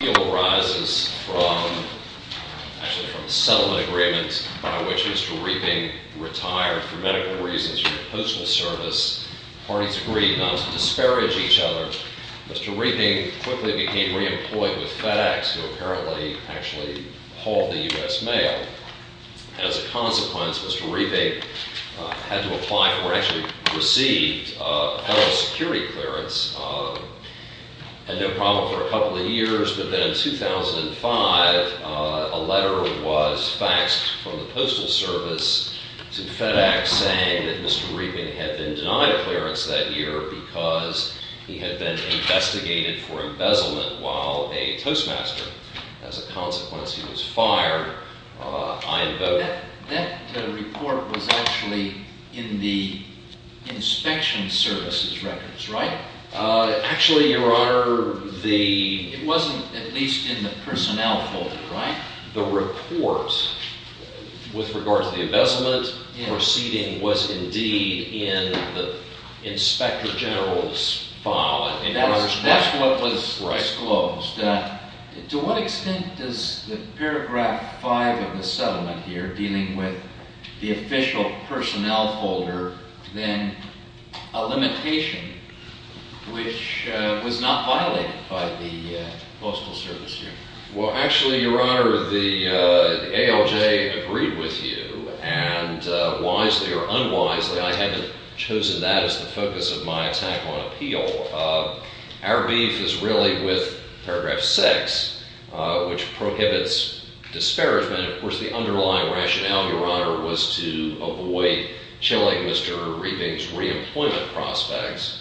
The deal arises from a settlement agreement by which Mr. Reeping retired for medical reasons from the Postal Service. Parties agreed not to disparage each other. Mr. Reeping quickly became re-employed with FedEx, who apparently actually hauled the U.S. mail. As a consequence, Mr. Reeping had to apply for, or actually received, federal security clearance, had no problem for a couple of years. But then in 2005, a letter was faxed from the Postal Service to FedEx saying that Mr. Reeping had been denied a clearance that year because he had been investigated for embezzlement while a Toastmaster. As a consequence, he was fired. I invoke... That report was actually in the Inspection Service's records, right? Actually, Your Honor, the... It wasn't at least in the personnel folder, right? The report with regard to the embezzlement proceeding was indeed in the Inspector General's file. That's what was disclosed. To what extent does the paragraph 5 of the settlement here deal with the official personnel folder than a limitation which was not violated by the Postal Service here? Well, actually, Your Honor, the ALJ agreed with you, and wisely or unwisely, I haven't chosen that as the focus of my attack on appeal. Our beef is really with paragraph 6, which prohibits disparagement. Of course, the underlying rationale, Your Honor, was to avoid chilling Mr. Reeping's reemployment prospects,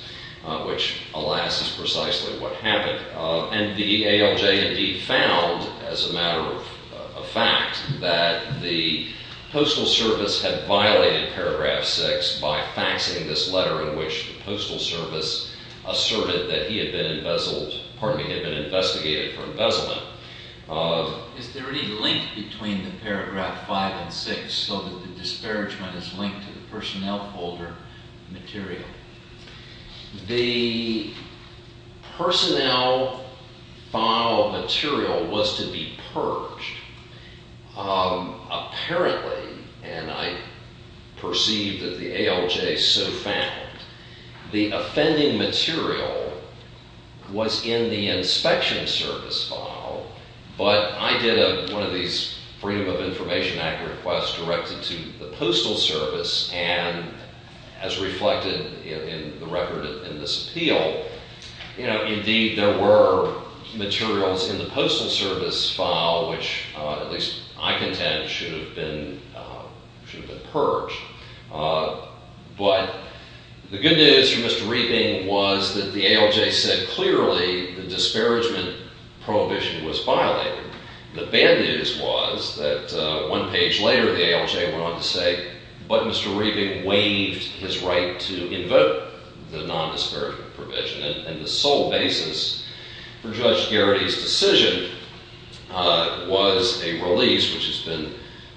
which, alas, is precisely what happened. And the ALJ indeed found, as a matter of fact, that the Postal Service had violated paragraph 6 by faxing this letter in which the Postal Service asserted that he had been investigated for embezzlement. Is there any link between the paragraph 5 and 6 so that the disparagement is linked to the personnel folder material? The personnel file material was to be purged. Apparently, and I perceive that the ALJ so The offending material was in the inspection service file, but I did one of these Freedom of Information Act requests directed to the Postal Service, and as reflected in the record in this appeal, you know, indeed, there were materials in the Postal Service file which, at least I contend, should have been purged. But the good news for Mr. Reeping was that the ALJ said clearly the disparagement prohibition was violated. The bad news was that one page later, the ALJ went on to say, but Mr. Reeping waived his right to invoke the nondisparagement And the sole basis for Judge Garrity's decision was a release which has been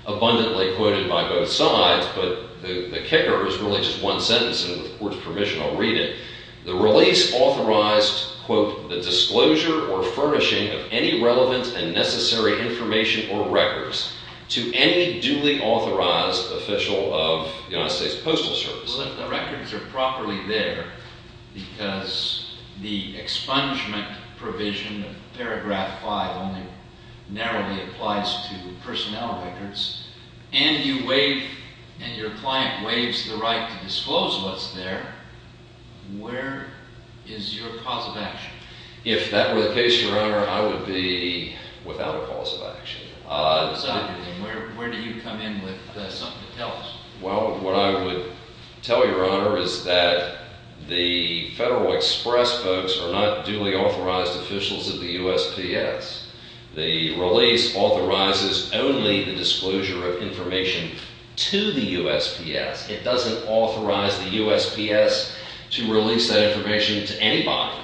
abundantly quoted by both sides, but the kicker is really just one sentence, and with the Court's permission, I'll read it. The release authorized, quote, the disclosure or furnishing of any relevant and necessary information or records to any duly authorized official of the United States Postal Service. Well, if the records are properly there because the expungement provision of paragraph 5 only narrowly applies to personnel records, and you waive, and your client waives the right to disclose what's there, where is your cause of action? If that were the case, Your Honor, I would be without a cause of action. Where do you come in with something to tell us? Well, what I would tell Your Honor is that the Federal Express folks are not duly authorized officials of the USPS. The release authorizes only the disclosure of information to the USPS. It doesn't authorize the USPS to release that information to anybody.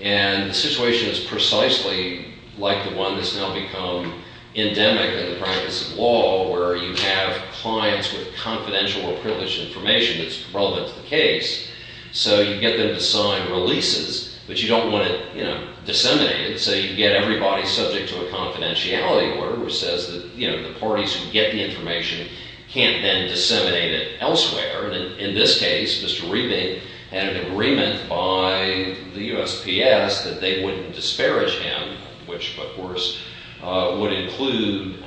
And the situation is precisely like the one that's now become endemic in the practice of law, where you have clients with confidential or privileged information that's relevant to the case. So you get them to sign releases, but you don't want it disseminated. So you get everybody subject to a confidentiality order, which says that the parties who get the information can't then disseminate it elsewhere. And in this case, Mr. Riebing had an agreement by the USPS that they wouldn't disparage him, which, of course, would include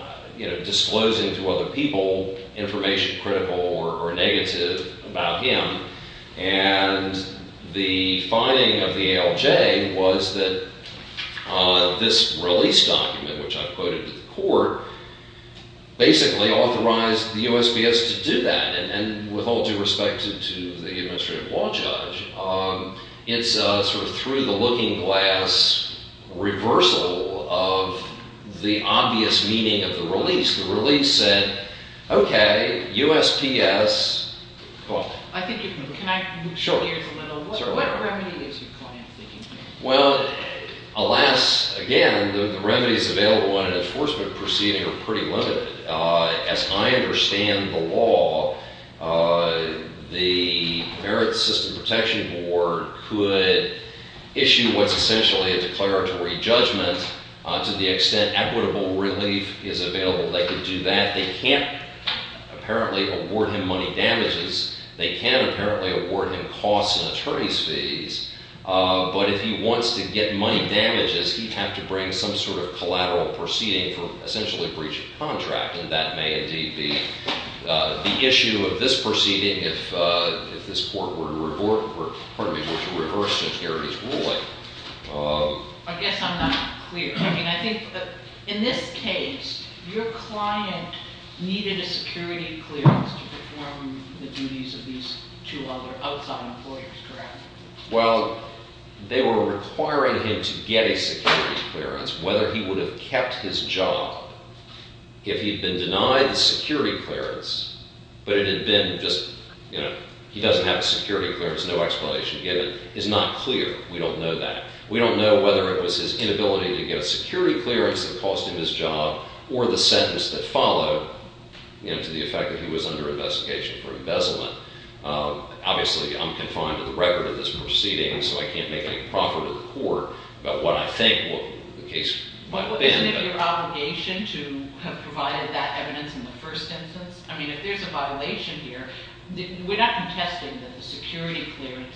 disclosing to other people information critical or negative about him. And the finding of the ALJ was that this release document, which I quoted to the court, basically authorized the USPS to do that. And with all due respect to the looking-glass reversal of the obvious meaning of the release, the release said, OK, USPS, go on. I think if we can connect the two gears a little, what remedy is your client seeking here? Well, alas, again, the remedies available in an enforcement proceeding are pretty limited. As I understand the law, the Merit System Protection Board could issue what's essentially a declaratory judgment. To the extent equitable relief is available, they could do that. They can't apparently award him money damages. They can't apparently award him costs and attorney's fees. But if he wants to get money damages, he'd have to bring some sort of collateral proceeding for essentially a breach of contract. And that may indeed be the issue of this proceeding if this court were to reverse securities ruling. I guess I'm not clear. I mean, I think that in this case, your client needed a security clearance to perform the duties of these two other outside employers, correct? Well, they were requiring him to get a security clearance. Whether he would have kept his job if he'd been denied the security clearance, but it had been just, you know, he doesn't have a security clearance, no explanation given, is not clear. We don't know that. We don't know whether it was his inability to get a security clearance that cost him his job or the sentence that followed, you know, to the effect that he was under investigation for embezzlement. Obviously, I'm confined to the record of this proceeding, so I can't make any proffer to the court about what I think the case might have been. But wasn't it your obligation to have provided that evidence in the first instance? I mean, if there's a violation here, we're not contesting that the security clearance,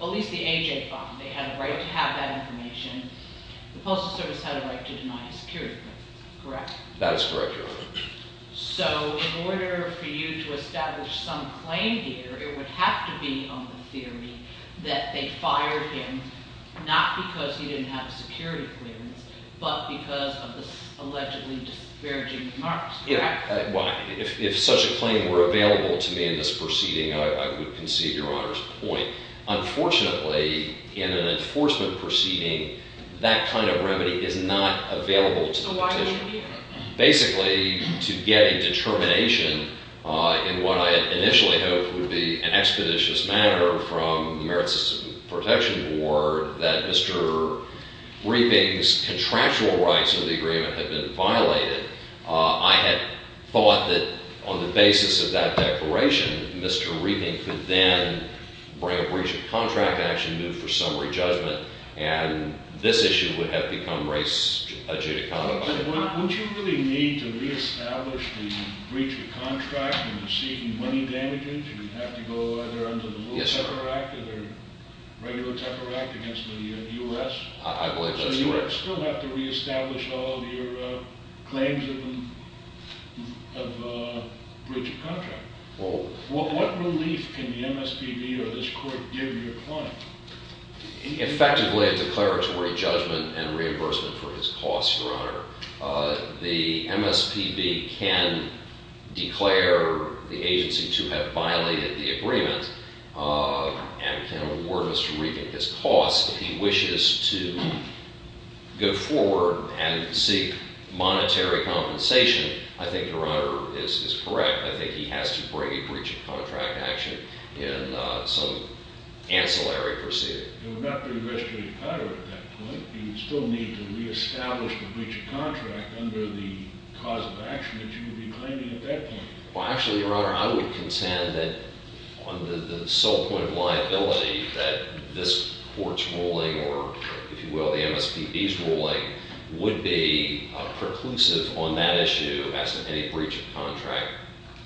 at least the AJ bond, they had a right to have that information. The Postal Service had a right to deny a security clearance, correct? That is correct, Your Honor. So, in order for you to establish some claim here, it would have to be on the theory that they fired him, not because he didn't have a security clearance, but because of the allegedly disparaging remarks, correct? Well, if such a claim were available to me in this proceeding, I would concede Your Honor's point. Unfortunately, in an enforcement proceeding, that kind of remedy is not available to the petitioner. Basically, to get a determination in what I initially hoped would be an expeditious matter from the Merit System Protection Board that Mr. Reeping's contractual rights of the agreement had been violated, I had thought that on the basis of that declaration, Mr. Reeping could then bring a breach of contract action, move for summary judgment, and this issue would have become a judicata violation. Would you really need to re-establish the breach of contract in receiving money damages? You'd have to go either under the Little Tepper Act or the regular Tepper Act against the U.S.? I believe that's correct. So you'd still have to re-establish all of your claims of breach of contract. What relief can the MSPB or this Court give your client? Effectively, a declaratory judgment and reimbursement for his costs, Your Honor. The MSPB can declare the agency to have violated the agreement and can award Mr. Reeping his costs if he wishes to go forward and seek monetary compensation. I think Your Honor is correct. I think he has to bring a breach of contract action in some ancillary proceeding. You would have to re-register your credit card at that point. You would still need to re-establish the breach of contract under the cause of action that you would be claiming at that point. Well, actually, Your Honor, I would consent that on the sole point of liability that this Court's ruling or, if you will, the MSPB's ruling would be preclusive on that issue as to any breach of contract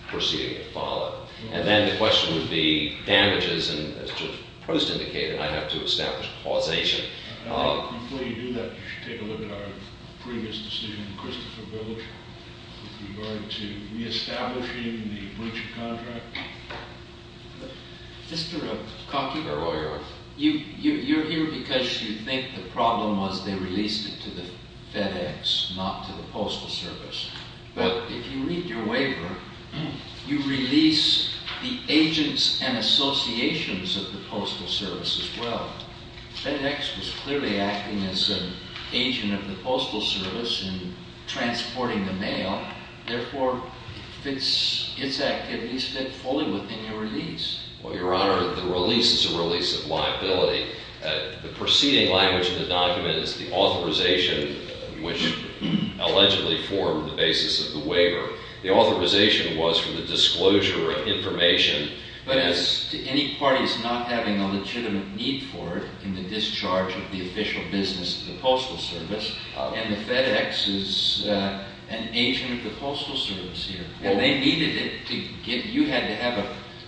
proceeding to follow. And then the question would be damages, and as Judge Post indicated, I'd have to establish a causation. Before you do that, you should take a look at our previous decision in Christopher Village with regard to re-establishing the breach of contract. Mr. Kockenberg, you're here because you think the problem was they released it to the FedEx, not to the Postal Service. But if you read your waiver, you release the agents and associations of the Postal Service as well. FedEx was clearly acting as an agent of the Postal Service in transporting the mail. Therefore, its activities fit fully within your release. Well, Your Honor, the release is a release of liability. The preceding language in the provision allegedly formed the basis of the waiver. The authorization was for the disclosure of information. But as to any parties not having a legitimate need for it in the discharge of the official business to the Postal Service, and the FedEx is an agent of the Postal Service here, and they needed it to give you had to have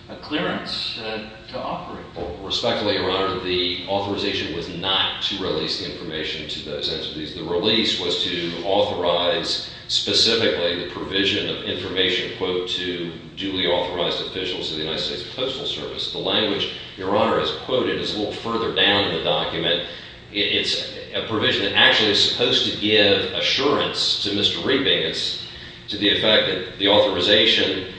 a clearance to offer it. Respectfully, Your Honor, the authorization was not to release the information to those entities. The release was to authorize specifically the provision of information, quote, to duly authorized officials of the United States Postal Service. The language, Your Honor, as quoted is a little further down in the document. It's a provision that actually is supposed to give assurance to Mr. Riebing. It's to the effect that the authorization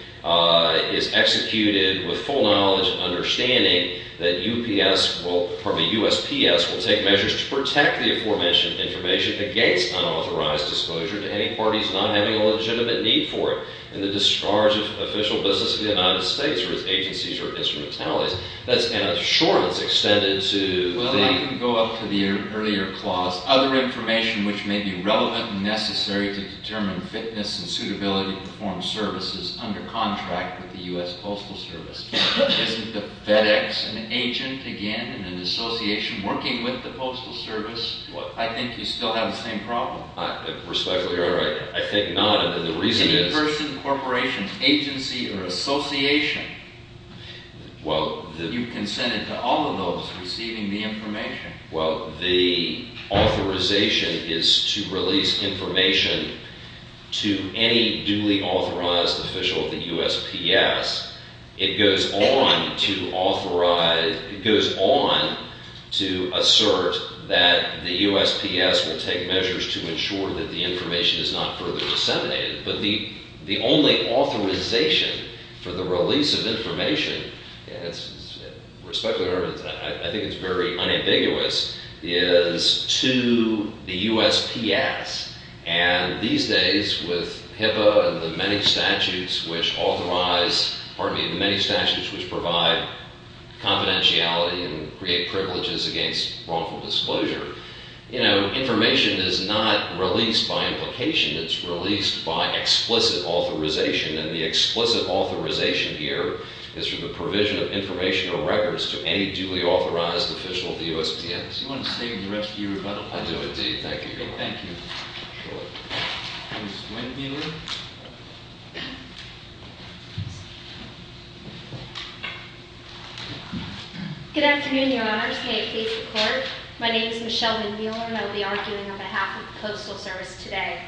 is executed with full knowledge and understanding that UPS will, pardon me, USPS, will take measures to protect the aforementioned information against unauthorized disclosure to any parties not having a legitimate need for it in the discharge of official business to the United States or its agencies or instrumentalities. That's an assurance extended to the Well, I can go up to the earlier clause. Other information which may be relevant and necessary to determine fitness and suitability to perform services under contract with the U.S. Postal Isn't the FedEx an agent, again, in an association working with the Postal Service? I think you still have the same problem. Respectfully, Your Honor, I think not. And the reason is Any person, corporation, agency, or association, you've consented to all of those receiving the information. Well, the authorization is to release information to any duly authorized official of the It goes on to authorize, it goes on to assert that the USPS will take measures to ensure that the information is not further disseminated. But the only authorization for the release of information, respectfully, Your Honor, I think it's very unambiguous, is to the USPS. And these days, with HIPAA and the many statutes which authorize, pardon me, the many statutes which provide confidentiality and create privileges against wrongful disclosure, you know, information is not released by implication. It's released by explicit authorization. And the explicit authorization here is for the provision of information or records to any duly authorized official of the USPS. Do you want to save the rest for your rebuttal? I do indeed. Thank you, Your Honor. Thank you. Ms. Winheeler? Good afternoon, Your Honors. May it please the Court? My name is Michelle Winheeler, and I will be arguing on behalf of the Postal Service today.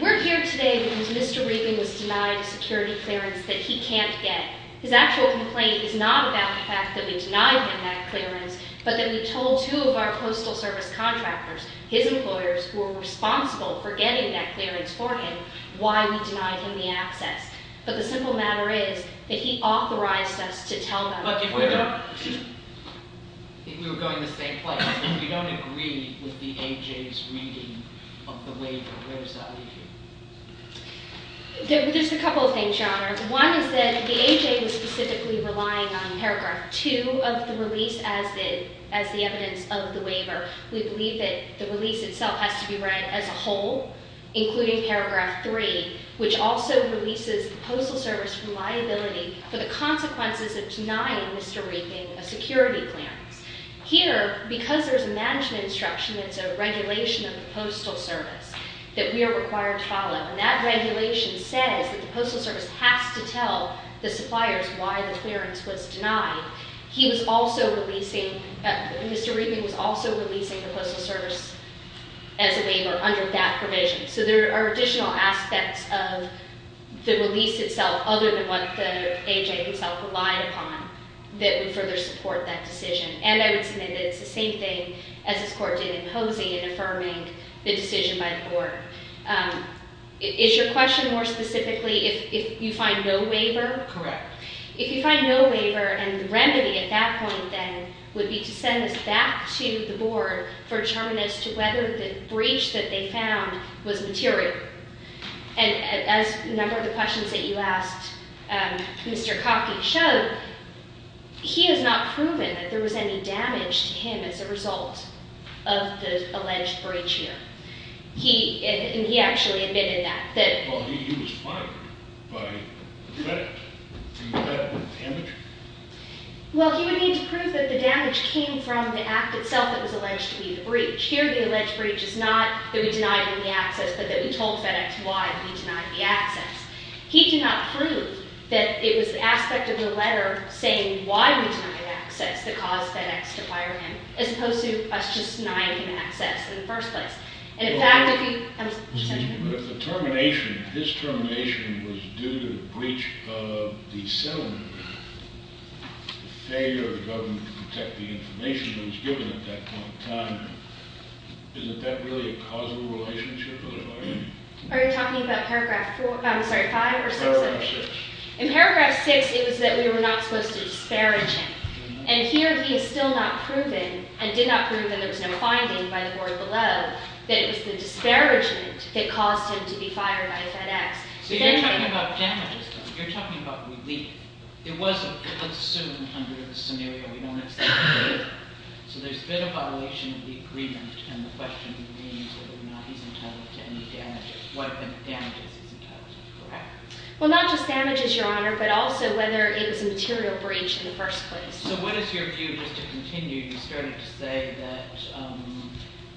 We're here today because Mr. Regan was denied a security clearance that he can't get. His actual complaint is not about the fact that we denied him that clearance, but that we told two of our Postal Service contractors, his employers, who are responsible for getting that clearance for him, why we denied him the access. But the simple matter is that he authorized us to tell them. Look, if we were going the same place, if you don't agree with the AJ's reading of the waiver, where does that leave you? There's a couple of things, Your Honor. One is that the AJ was specifically relying on Paragraph 2 of the release as the evidence of the waiver. We believe that the release itself has to be read as a whole, including Paragraph 3, which also releases the Postal Service from liability for the consequences of denying Mr. Regan a security clearance. Here, because there's a management instruction that's a regulation of the Postal Service that we are required to follow, and that regulation says that the Postal Service has to tell the suppliers why the clearance was denied, he was also releasing, Mr. Regan was also releasing the Postal Service as a waiver under that provision. So there are additional aspects of the release itself, other than what the AJ himself relied upon, that would further support that decision. And I would submit that it's the same thing as this Court did in Posey in affirming the decision by the Court. Is your question more specifically if you find no waiver? Correct. If you find no waiver, and the remedy at that point, then, would be to send this back to the Board for determination as to whether the breach that they found was material. And as a number of the questions that you asked Mr. Coffey showed, he has not proven that there was any damage to him as a result of the alleged breach here. He actually admitted that. Well, he would need to prove that the damage came from the act itself that was alleged to be the breach. Here, the alleged breach is not that we denied him the access, but that we told FedEx why we denied the access. He did not prove that it was the aspect of the letter saying why we denied access that caused FedEx to fire him, as opposed to us just denying him access in the first place. And in fact, if you... But if the termination, his termination, was due to the breach of the settlement, the failure of the government to protect the information that was given at that point in time, isn't that really a causal relationship? Are you talking about paragraph 4, I'm sorry, 5 or 6? Paragraph 6. In paragraph 6, it was that we were not supposed to disparage him. And here, he has still not proven, and did not prove, and there was no finding by the Board below, that it was the disparagement that caused him to be fired by FedEx. So you're talking about damages, though. You're talking about relief. It wasn't assumed under the scenario. We don't accept relief. So there's been a violation of the agreement, and the question remains whether or not he's entitled to any damages. What damages he's entitled to, correct? Well, not just damages, Your Honor, but also whether it was a material breach in the first place. So what is your view, just to continue, you started to say that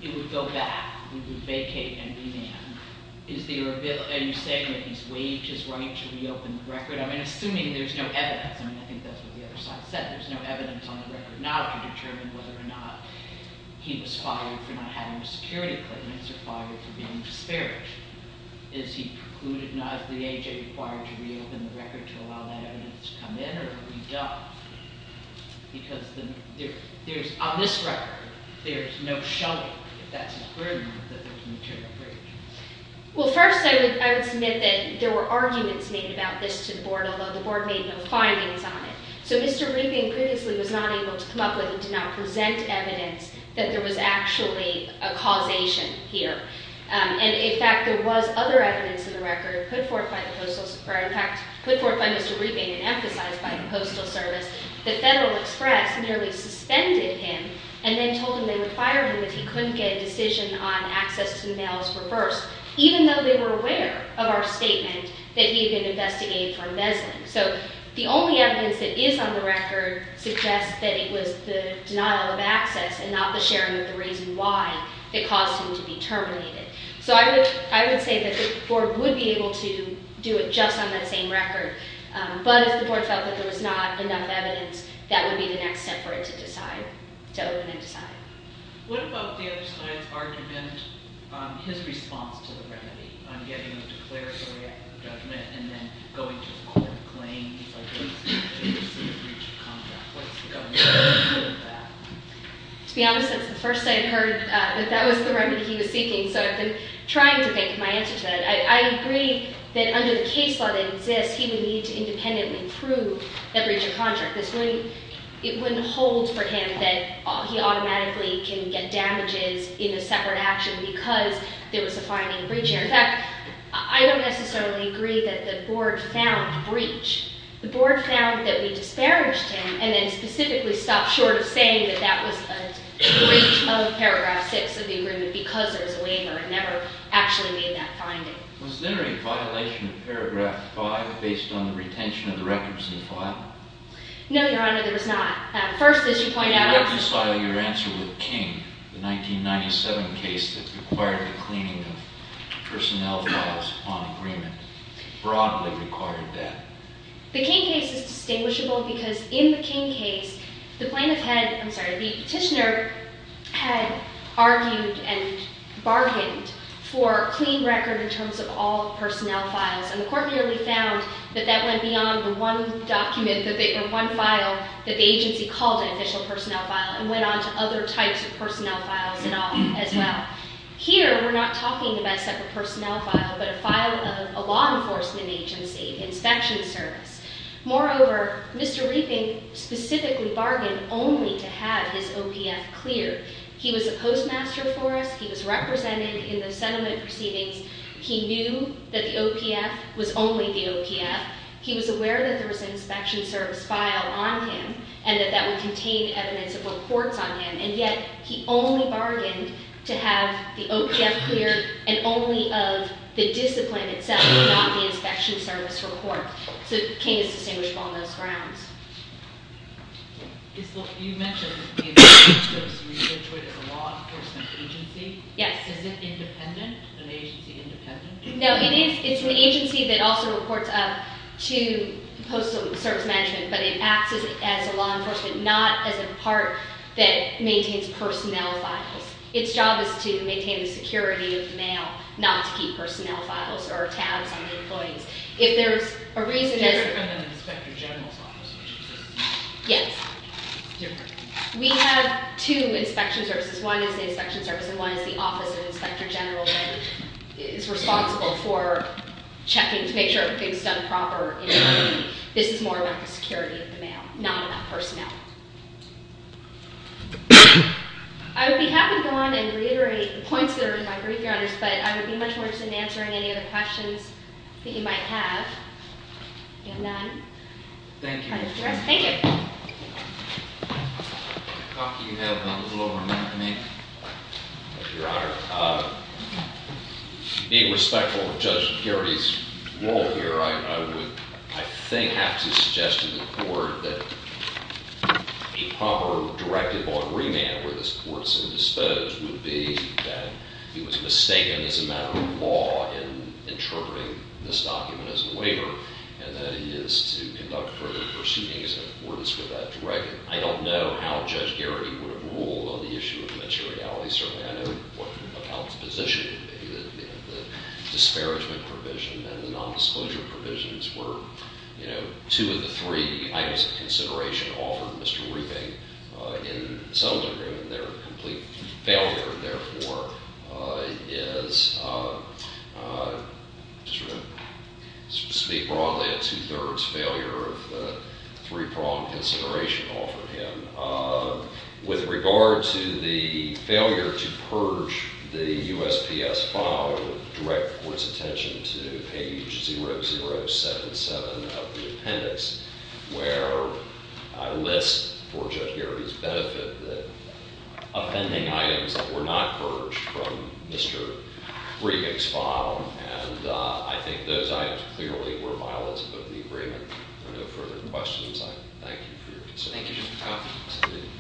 it would go back, it would vacate and remand. Are you saying that he's waived his right to reopen the record? I mean, assuming there's no evidence. I mean, I think that's what the other side said. There's no evidence on the record now to determine whether or not he was fired for not having the security claims or fired for being disparaged. Is he precluded now, is the AJ required to reopen the record to allow that evidence to come in, or are we done? Because there's, on this record, there's no showing that that's a criminal, that there's a material breach. Well, first, I would submit that there were arguments made about this to the Board, although the Board made no findings on it. So Mr. Rubin previously was not able to come up with and to not present evidence that there was actually a causation here. And, in fact, there was other evidence in the record put forth by the Postal Service, or, in fact, put forth by Mr. Rubin and emphasized by the Postal Service. The Federal Express merely suspended him and then told him they would fire him if he couldn't get a decision on access to the mails reversed, even though they were aware of our statement that he had been investigated for messing. So the only evidence that is on the record suggests that it was the denial of access and not the sharing of the reason why it caused him to be terminated. So I would say that the Board would be able to do it just on that same record. But if the Board felt that there was not enough evidence, that would be the next step for it to decide, to open and decide. What about the other side's argument on his response to the remedy, on getting a declaratory act of judgment and then going to a court and claiming he's able to receive a breach of contract? What's the government's response to that? To be honest, that's the first I heard that that was the remedy he was seeking, so I've been trying to think of my answer to that. I agree that under the case law that exists, he would need to independently prove that breach of contract. It wouldn't hold for him that he automatically can get damages in a separate action because there was a fine and a breach here. In fact, I don't necessarily agree that the Board found a breach. The Board found that we disparaged him and then specifically stopped short of saying that that was a breach of Paragraph 6 of the agreement because there was a waiver. It never actually made that finding. Was there a violation of Paragraph 5 based on the retention of the records in the file? No, Your Honor, there was not. Your answer with King, the 1997 case that required the cleaning of personnel files on agreement, broadly required that. The King case is distinguishable because in the King case, the petitioner had argued and bargained for a clean record in terms of all personnel files, and the court merely found that that went beyond the one document or one file that the agency called an official personnel file and went on to other types of personnel files as well. Here, we're not talking about a separate personnel file but a file of a law enforcement agency, an inspection service. Moreover, Mr. Riefing specifically bargained only to have his OPF cleared. He was a postmaster for us. He was represented in the settlement proceedings. He knew that the OPF was only the OPF. He was aware that there was an inspection service file on him and that that would contain evidence of reports on him, and yet he only bargained to have the OPF cleared and only of the discipline itself, not the inspection service report. So, King is distinguishable on those grounds. Ms. Loftin, you mentioned that the inspection service was registered as a law enforcement agency. Yes. Is it independent, an agency independent? No, it is. It's an agency that also reports up to postal service management, but it acts as a law enforcement, not as a part that maintains personnel files. Its job is to maintain the security of the mail, not to keep personnel files or tabs on the employees. If there's a reason as— It's different than an inspector general's office, which is different. Yes. It's different. We have two inspection services. One is the inspection service, and one is the office of the inspector general, who is responsible for checking to make sure everything's done properly. This is more about the security of the mail, not about personnel. I would be happy to go on and reiterate the points that are in my brief, Your Honors, but I would be much more interested in answering any other questions that you might have. Do we have none? Thank you. Thank you. If you have a little more time to make— Thank you, Your Honor. Being respectful of Judge Geraghty's role here, I would, I think, have to suggest to the court that a proper directive on remand where this court is at a dispose would be that he was mistaken as a matter of law in interpreting this document as a waiver, and that he is to conduct further proceedings if the court is for that directive. I don't know how Judge Geraghty would have ruled on the issue of materiality. Certainly, I know what the position would be, that the disparagement provision and the nondisclosure provisions were, you know, two of the three items of consideration offered to Mr. Riefing in the settlement agreement. Their complete failure, therefore, is, to speak broadly, a two-thirds failure of the three-pronged consideration offered him. With regard to the failure to purge the USPS file, I would direct the court's attention to page 0077 of the appendix, where I list, for Judge Geraghty's benefit, the appending items that were not purged from Mr. Riefing's file, and I think those items clearly were violates of the agreement. If there are no further questions, I thank you for your concern. Thank you, Mr. Cuff.